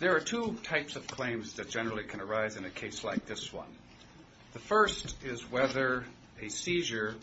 There are two types of claims that generally can arise in a case like this one. The first is whether a seizure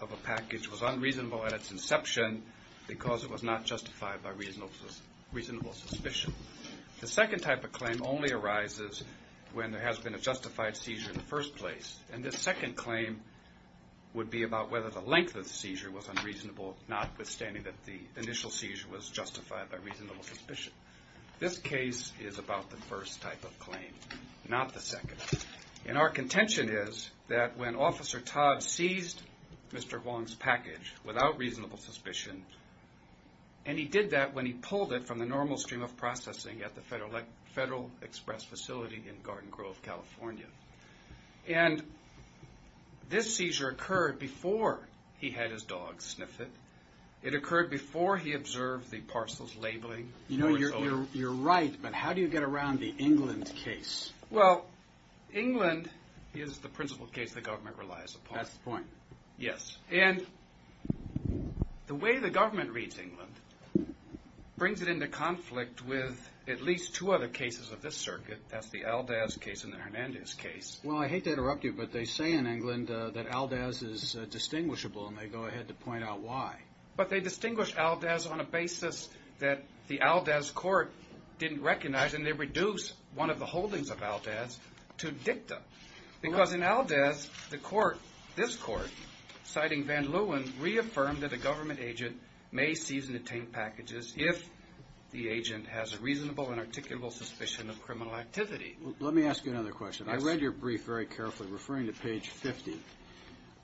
of a package was unreasonable at its inception because it was not justified by reasonable suspicion. The second type of claim only arises when there has been a justified seizure in the first place. And this second claim would be about whether the length of the seizure was unreasonable notwithstanding that the initial seizure was justified by reasonable suspicion. This case is about the first type of claim, not the second. And our theory is that when Officer Todd seized Mr. Hoang's package without reasonable suspicion, and he did that when he pulled it from the normal stream of processing at the Federal Express facility in Garden Grove, California. And this seizure occurred before he had his dog sniff it. It occurred before he observed the parcels labeling. You know, you're right, but how do you get around the England case? Well, England is the principal case the government relies upon. That's the point. Yes. And the way the government reads England brings it into conflict with at least two other cases of this circuit. That's the Aldaz case and the Hernandez case. Well, I hate to interrupt you, but they say in England that Aldaz is distinguishable, and they go ahead to point out why. But they distinguish Aldaz on a basis that the Aldaz court didn't recognize, and they reduce one of the holdings of Aldaz to dicta. Because in Aldaz, the court, this court, citing Van Leeuwen, reaffirmed that a government agent may seize and obtain packages if the agent has a reasonable and articulable suspicion of criminal activity. Let me ask you another question. I read your brief very carefully, referring to page 50.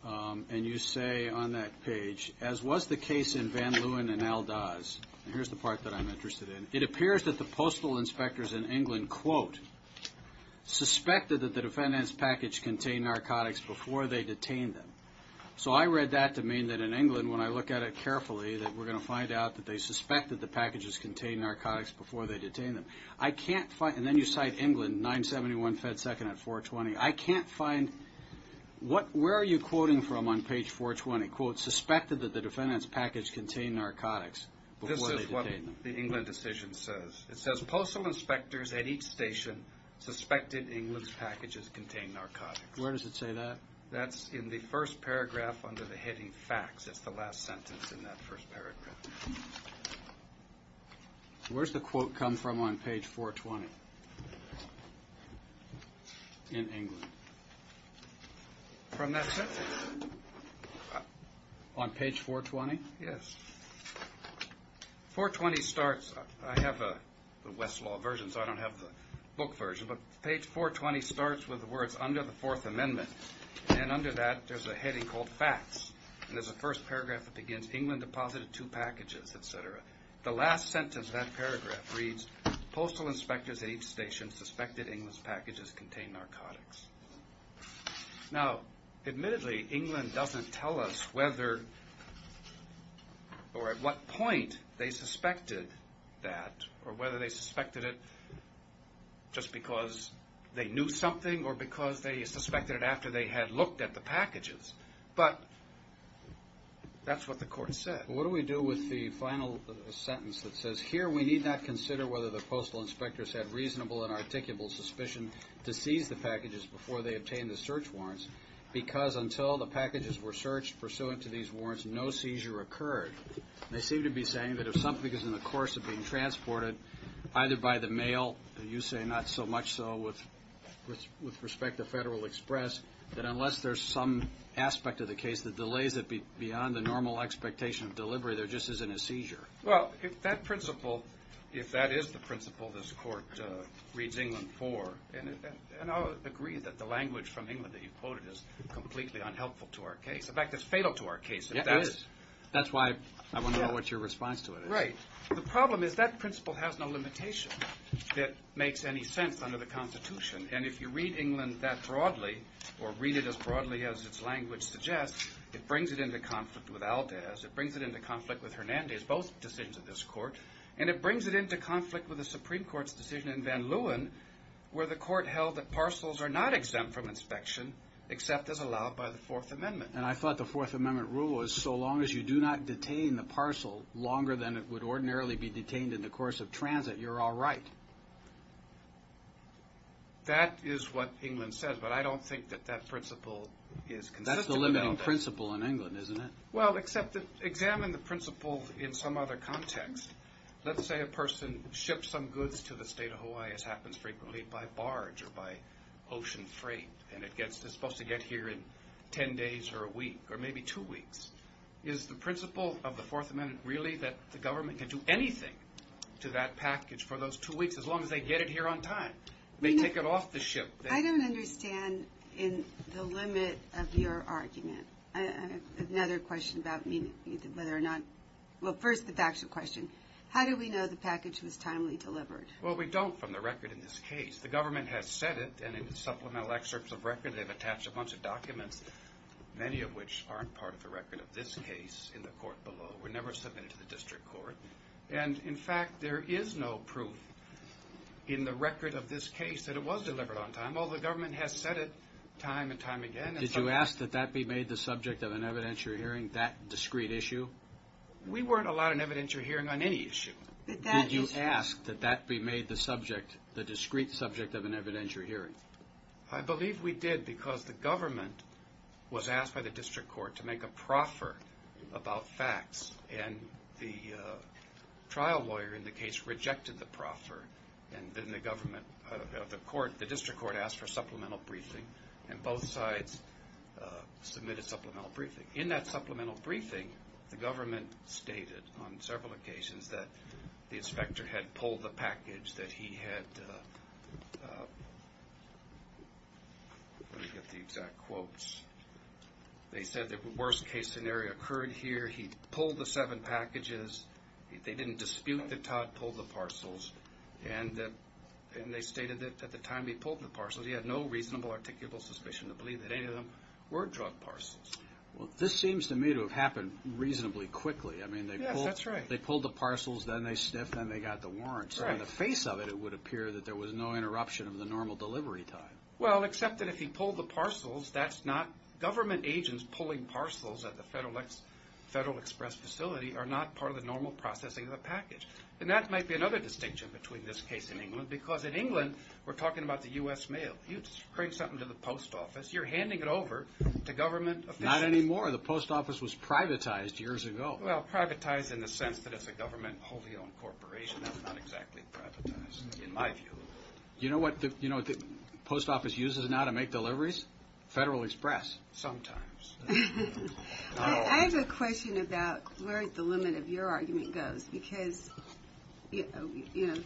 And you say on that page, as was the case in Van Leeuwen and Aldaz, and here's the part that I'm interested in, it appears that the postal inspectors in England, quote, suspected that the defendant's package contained narcotics before they detained them. So I read that to mean that in England, when I look at it carefully, that we're going to find out that they suspected the packages contained narcotics before they detained them. I can't find, and then you cite England, 971 Fed Second at 420. I can't find, what, where are you quoting from on page 420? Quote, suspected that the defendant's package contained narcotics before they detained them. This is what the England decision says. It says, postal inspectors at each station suspected England's packages contained narcotics. Where does it say that? That's in the first paragraph under the heading facts. It's the last sentence in that first paragraph. Where's the quote come from on page 420? In England. From that sentence? On page 420? Yes. 420 starts, I have the Westlaw version, so I don't have the book version, but page 420 starts with the words, under the Fourth Amendment, and under that there's a heading called facts. And there's a first paragraph that begins, England deposited two packages, et cetera. The last sentence of that paragraph reads, postal inspectors at each station suspected England's packages contained narcotics. Now admittedly, England doesn't tell us whether or at what point they suspected that, or whether they suspected it just because they knew something, or because they suspected it after they had looked at the packages. But that's what the court said. What do we do with the final sentence that says, here we need not consider whether the postal inspectors had reasonable and articulable suspicion to seize the packages before they obtained the search warrants, because until the packages were searched pursuant to these warrants, no seizure occurred. They seem to be saying that if something is in the course of being transported, either by the mail, you say not so much so with respect to Federal Express, that unless there's some aspect of the case that delays it beyond the normal expectation of delivery, there just isn't a seizure. Well, if that principle, if that is the principle this court reads England for, and I'll agree that the language from England that you quoted is completely unhelpful to our case. In fact, it's fatal to our case. That's why I want to know what your response to it is. Right. The problem is that principle has no limitation that makes any sense under the Constitution. And if you read England that it brings it into conflict with Hernandez, both decisions of this court, and it brings it into conflict with the Supreme Court's decision in Van Leeuwen, where the court held that parcels are not exempt from inspection, except as allowed by the Fourth Amendment. And I thought the Fourth Amendment rule was, so long as you do not detain the parcel longer than it would ordinarily be detained in the course of transit, you're all right. That is what England says, but I don't think that that principle is consistent. That's the limiting principle in England, isn't it? Well, except examine the principle in some other context. Let's say a person ships some goods to the state of Hawaii, as happens frequently by barge or by ocean freight, and it's supposed to get here in ten days or a week or maybe two weeks. Is the principle of the Fourth Amendment really that the government can do anything to that package for those two weeks as long as they get it here on time? They take it off the ship. I don't understand the limit of your argument. I have another question about whether or not – well, first, the factual question. How do we know the package was timely delivered? Well, we don't from the record in this case. The government has said it, and in the supplemental excerpts of record, they've attached a bunch of documents, many of which aren't part of the record of this case in the court below, were never submitted to the district court. And in fact, there is no proof in the record of this case that it was delivered on time. Although the government has said it time and time again. Did you ask that that be made the subject of an evidentiary hearing, that discrete issue? We weren't allowed an evidentiary hearing on any issue. Did you ask that that be made the subject, the discrete subject of an evidentiary hearing? I believe we did because the government was asked by the district court to make a proffer about facts, and the trial lawyer in the case rejected the proffer, and then the government of the court, the district court asked for a supplemental briefing, and both sides submitted supplemental briefing. In that supplemental briefing, the government stated on several occasions that the inspector had pulled the package, that he had – let me get the exact story, occurred here, he pulled the seven packages, they didn't dispute that Todd pulled the parcels, and they stated that at the time he pulled the parcels, he had no reasonable articulable suspicion to believe that any of them were drug parcels. This seems to me to have happened reasonably quickly. I mean, they pulled the parcels, then they sniffed, then they got the warrant. So in the face of it, it would appear that there was no interruption of the normal delivery time. Well, except that if he pulled the parcels, that's not – government agents pulling parcels at the Federal Express facility are not part of the normal processing of the package. And that might be another distinction between this case and England, because in England, we're talking about the U.S. mail. You bring something to the post office, you're handing it over to government officials. Not anymore. The post office was privatized years ago. Well, privatized in the sense that it's a government wholly owned corporation. That's not exactly privatized, in my view. You know what the post office uses now to make deliveries? Federal Express. Sometimes. I have a question about where the limit of your argument goes, because the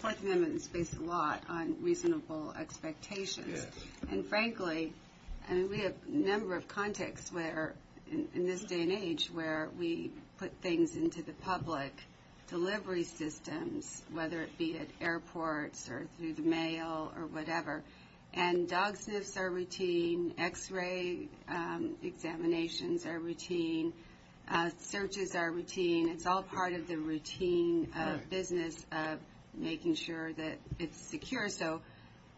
Fourth Amendment is based a lot on reasonable expectations. And frankly, I mean, we have a number of contexts where, in this day and age, where we put things into the public delivery systems, whether it be at airports or through the mail or whatever. And dog sniffs are routine, x-ray examinations are routine, searches are routine. It's all part of the routine business of making sure that it's secure so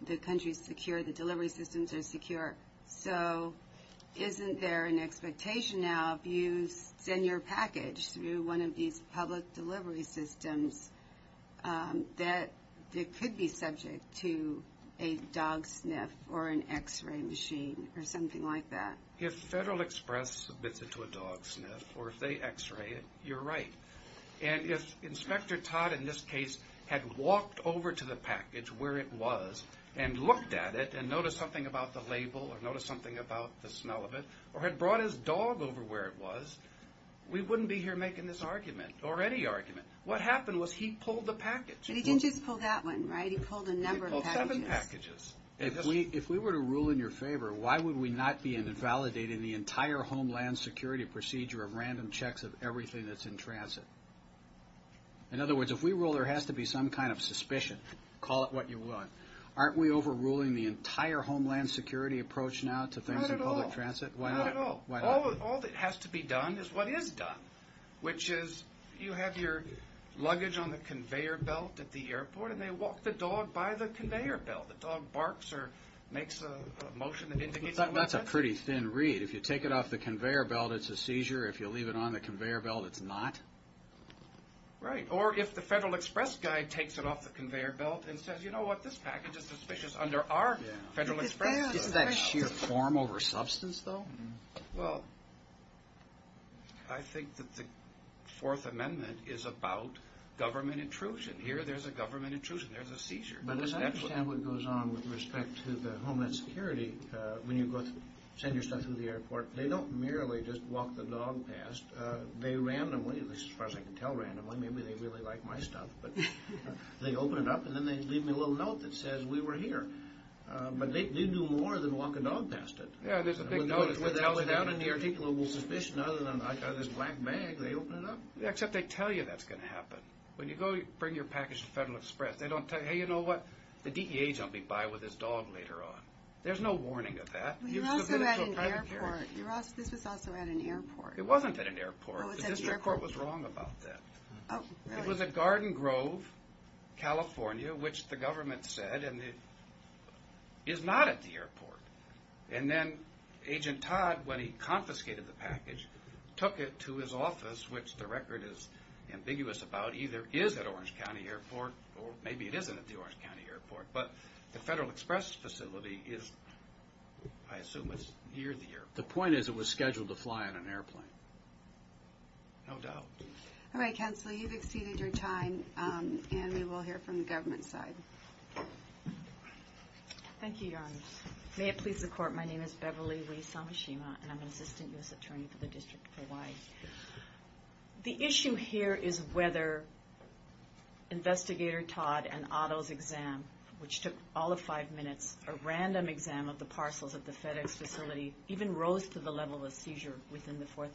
the country's secure, the delivery systems are secure. So isn't there an expectation now if you send your package through one of these public delivery systems that it could be subject to a dog sniff or an x-ray machine or something like that? If Federal Express submits it to a dog sniff or if they x-ray it, you're right. And if Inspector Todd, in this case, had walked over to the package where it was and looked at it and noticed something about the label or noticed something about the smell of it or had brought his dog over where it was, we wouldn't be here making this argument or any argument. What happened was he pulled the package. But he didn't just pull that one, right? He pulled a number of packages. He pulled seven packages. If we were to rule in your favor, why would we not be invalidating the entire Homeland Security procedure of random checks of everything that's in transit? In other words, if we rule there has to be some kind of suspicion, call it what you want, aren't we overruling the entire Homeland Security approach now to things in public transit? Not at all. All that has to be done is what is done, which is you have your luggage on the conveyor belt at the airport and they walk the dog by the conveyor belt. The dog barks or makes a motion that indicates that. That's a pretty thin read. If you take it off the conveyor belt, it's a seizure. If you leave it on the conveyor belt, it's not. Right. Or if the Federal Express guy takes it off the conveyor belt and says, you know what, this package is suspicious under our Federal Express. Isn't that sheer form over substance, though? Well, I think that the Fourth Amendment is about government intrusion. Here there's a government intrusion. There's a seizure. But as I understand what goes on with respect to the Homeland Security, when you send your stuff through the airport, they don't merely just walk the dog past. They randomly, at least as far as I can tell randomly, maybe they really like my stuff, but they open it up and then they leave me a little note that says we were here. But they do more than walk a dog past it. Yeah, there's a big note that tells you that. Without any articulable suspicion other than I've got this black bag, they open it up. Except they tell you that's going to happen. When you go bring your package to Federal Express, they don't tell you, hey, you know what, the DEA's going to be by with his dog later on. There's no warning of that. You also had an airport. This was also at an airport. It wasn't at an airport. Oh, it's at the airport. The airport was wrong about that. It was at Garden Grove, California, which the government said is not at the airport. And then Agent Todd, when he confiscated the package, took it to his office, which the record is ambiguous about. Either it is at Orange County Airport or maybe it isn't at the Orange County Airport. But the Federal Express facility is, I assume it's near the airport. The point is it was scheduled to fly on an airplane. No doubt. All right, Counselor, you've exceeded your time, and we will hear from the government side. Thank you, Your Honors. May it please the Court, my name is Beverly Lee Samashima, and I'm an Assistant U.S. Attorney for the District of Hawaii. The issue here is whether Investigator Todd and Otto's exam, which took all of five minutes, a random exam of the parcels at the FedEx facility, even rose to the level of five minutes.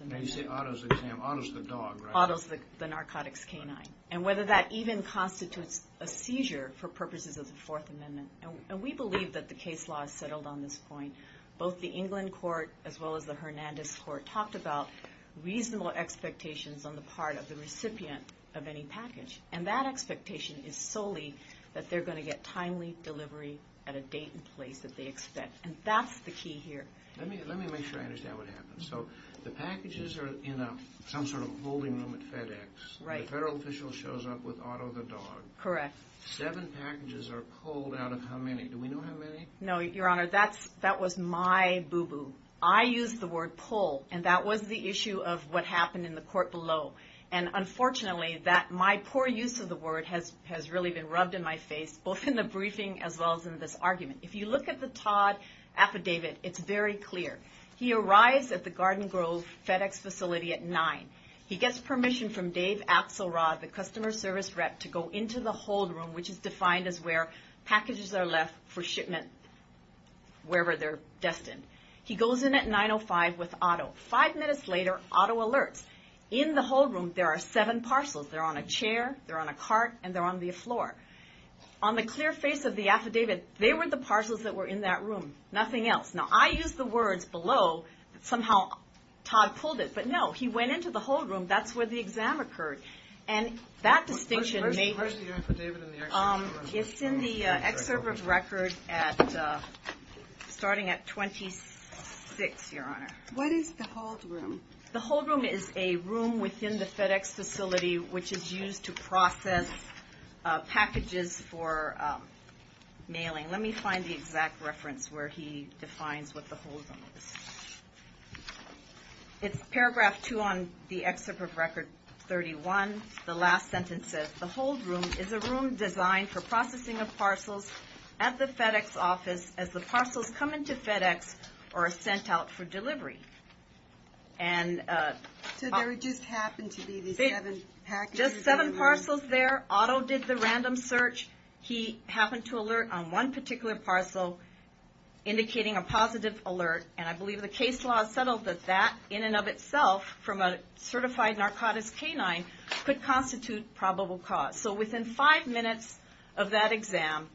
Now you say Otto's exam. Otto's the dog, right? Otto's the narcotics canine. And whether that even constitutes a seizure for purposes of the Fourth Amendment. And we believe that the case law is settled on this point. Both the England Court as well as the Hernandez Court talked about reasonable expectations on the part of the recipient of any package. And that expectation is solely that they're going to get timely delivery at a date and place that they expect. And that's the key here. Let me make sure I understand what happened. So the packages are in some sort of holding room at FedEx. Right. The federal official shows up with Otto the dog. Correct. Seven packages are pulled out of how many? Do we know how many? No, Your Honor, that was my boo-boo. I used the word pull, and that was the issue of what happened in the court below. And unfortunately, my poor use of the word has really been rubbed in my face, both in the briefing as well as in this argument. If you look at the Todd affidavit, it's very clear. He arrives at the Garden Grove FedEx facility at 9. He gets permission from Dave Axelrod, the customer service rep, to go into the hold room, which is defined as where packages are left for shipment wherever they're destined. He goes in at 9.05 with Otto. Five minutes later, Otto alerts. In the hold room, there are seven parcels. They're on a chair, they're on a cart, and they're on the floor. On the clear face of the affidavit, they were the parcels that were in that room, nothing else. Now, I used the words below. Somehow, Todd pulled it. But no, he went into the hold room. That's where the exam occurred. And that distinction may be Where's the affidavit in the excerpt of the record? It's in the excerpt of the record starting at 26, Your Honor. What is the hold room? The hold room is a room within the FedEx facility which is used to process packages for mailing. Let me find the exact reference where he defines what the hold room is. It's paragraph two on the excerpt of record 31. The last sentence says, The hold room is a room designed for processing of parcels at the FedEx office as the parcels come to FedEx or are sent out for delivery. So there just happened to be these seven packages? Just seven parcels there. Otto did the random search. He happened to alert on one particular parcel, indicating a positive alert. And I believe the case law settled that that, in and of itself, from a certified narcotics canine, could constitute probable cause. So within five minutes of that exam,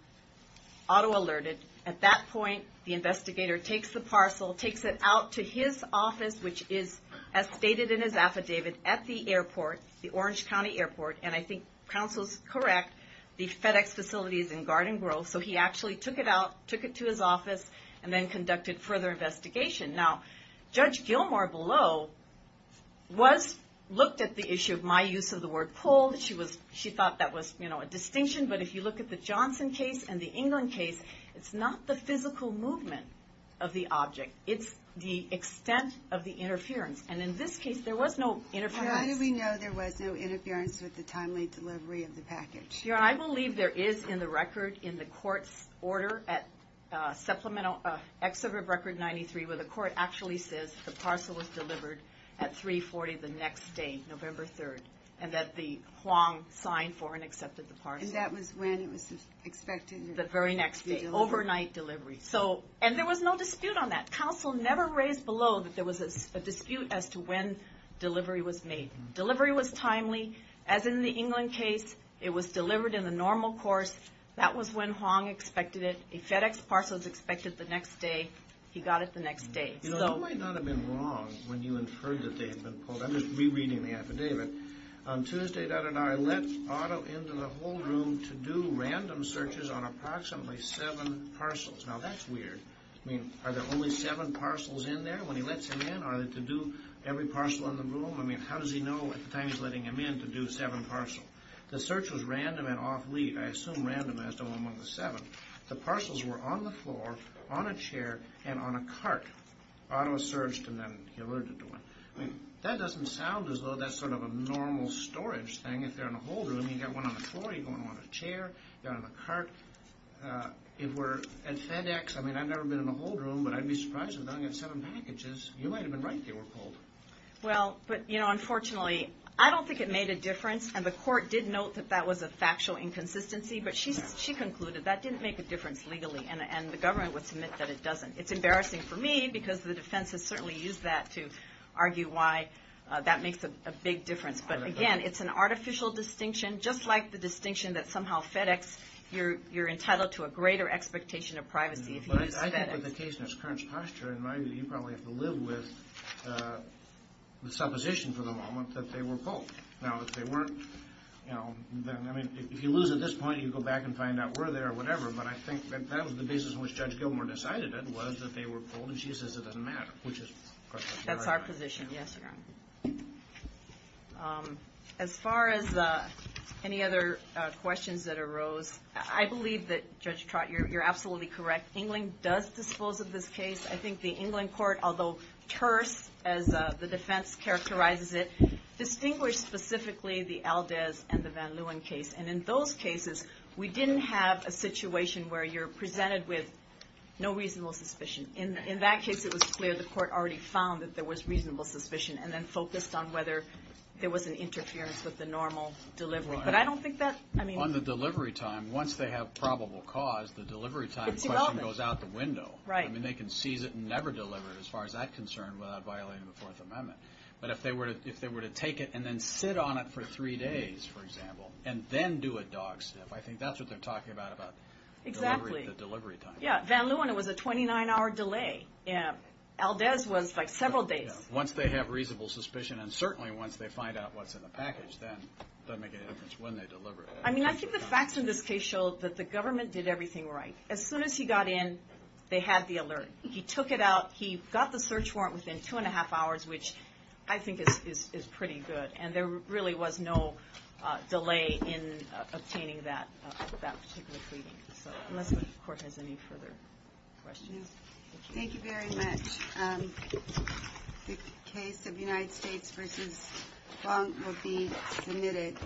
Otto alerted. At that point, the investigator takes the parcel, takes it out to his office, which is as stated in his affidavit, at the airport, the Orange County airport. And I think counsel's correct. The FedEx facility is in Garden Grove. So he actually took it out, took it to his office, and then conducted further investigation. Now, Judge Gilmore below looked at the issue of my use of the word pulled. She thought that was a distinction. But if you look at the Johnson case and the England case, it's not the physical movement of the object. It's the extent of the interference. And in this case, there was no interference. How do we know there was no interference with the timely delivery of the package? Your Honor, I believe there is in the record in the court's order at supplemental excerpt of Record 93 where the court actually says the parcel was delivered at 3.40 the next day, November 3rd, and that the Huang signed for and accepted the parcel. And that was when it was expected? The very next day. Overnight delivery. So, and there was no dispute on that. Counsel never raised below that there was a dispute as to when delivery was made. Delivery was timely. As in the England case, it was delivered in the normal course. That was when Huang expected it. A FedEx parcel is expected the next day. He got it the next day. You know, you might not have been wrong when you inferred that they had been pulled. I'm just rereading the affidavit. On Tuesday, Dutton and I let Otto into the whole room to do random searches on approximately seven parcels. Now, that's weird. I mean, are there only seven parcels in there when he lets him in? Are they to do every parcel in the room? I mean, how does he know at the time he's letting him in to do seven parcels? The search was random and off lead. I assume random as to when one of the seven. The parcels were on the floor, on a chair, and on a cart. Otto searched and then he alerted to one. That doesn't sound as though that's sort of a normal storage thing. If they're in a whole room, you've got one on the floor, you've got one on a chair, they're on a cart. If we're at FedEx, I mean, I've never been in a whole room, but I'd be surprised if they only had seven packages. You might have been right they were pulled. Well, but, you know, unfortunately, I don't think it made a difference. And the court did note that that was a factual inconsistency. But she concluded that didn't make a difference legally. And the government would submit that it doesn't. It's embarrassing for me because the defense has certainly used that to argue why that makes a big difference. But, again, it's an artificial distinction, just like the distinction that somehow FedEx, you're entitled to a greater expectation of privacy if you use FedEx. But I think with the case in its current posture, in my view, you probably have to live with the supposition for the moment that they were pulled. Now, if they weren't, you know, I mean, if you lose at this point, you go back and find out were they or whatever. But I think that that was the basis in which Judge Gilmore decided it was that they were pulled. And she says it doesn't matter, which is correct. That's our position. Yes, Your Honor. As far as any other questions that arose, I believe that Judge Trott, you're absolutely correct. England does dispose of this case. I think the England court, although terse, as the defense characterizes it, distinguished specifically the Aldez and the Van Leeuwen case. And in those cases, we didn't have a situation where you're presented with no reasonable suspicion. In that case, it was clear the court already found that there was reasonable suspicion and then focused on whether there was an interference with the normal delivery. But I don't think that, I mean. On the delivery time, once they have probable cause, the delivery time question goes out the window. Right. I mean, they can seize it and never deliver it, as far as I'm concerned, without violating the Fourth Amendment. But if they were to take it and then sit on it for three days, for example, and then do a dog sniff, I think that's what they're talking about about the delivery time. Exactly. Van Leeuwen, it was a 29-hour delay. Aldez was like several days. Once they have reasonable suspicion, and certainly once they find out what's in the package, then it doesn't make any difference when they deliver it. I mean, I think the facts in this case show that the government did everything right. As soon as he got in, they had the alert. He took it out. He got the search warrant within two and a half hours, which I think is pretty good. And there really was no delay in obtaining that particular cleaning. So unless the court has any further questions. Thank you very much. The case of United States v. Bonk will be submitted.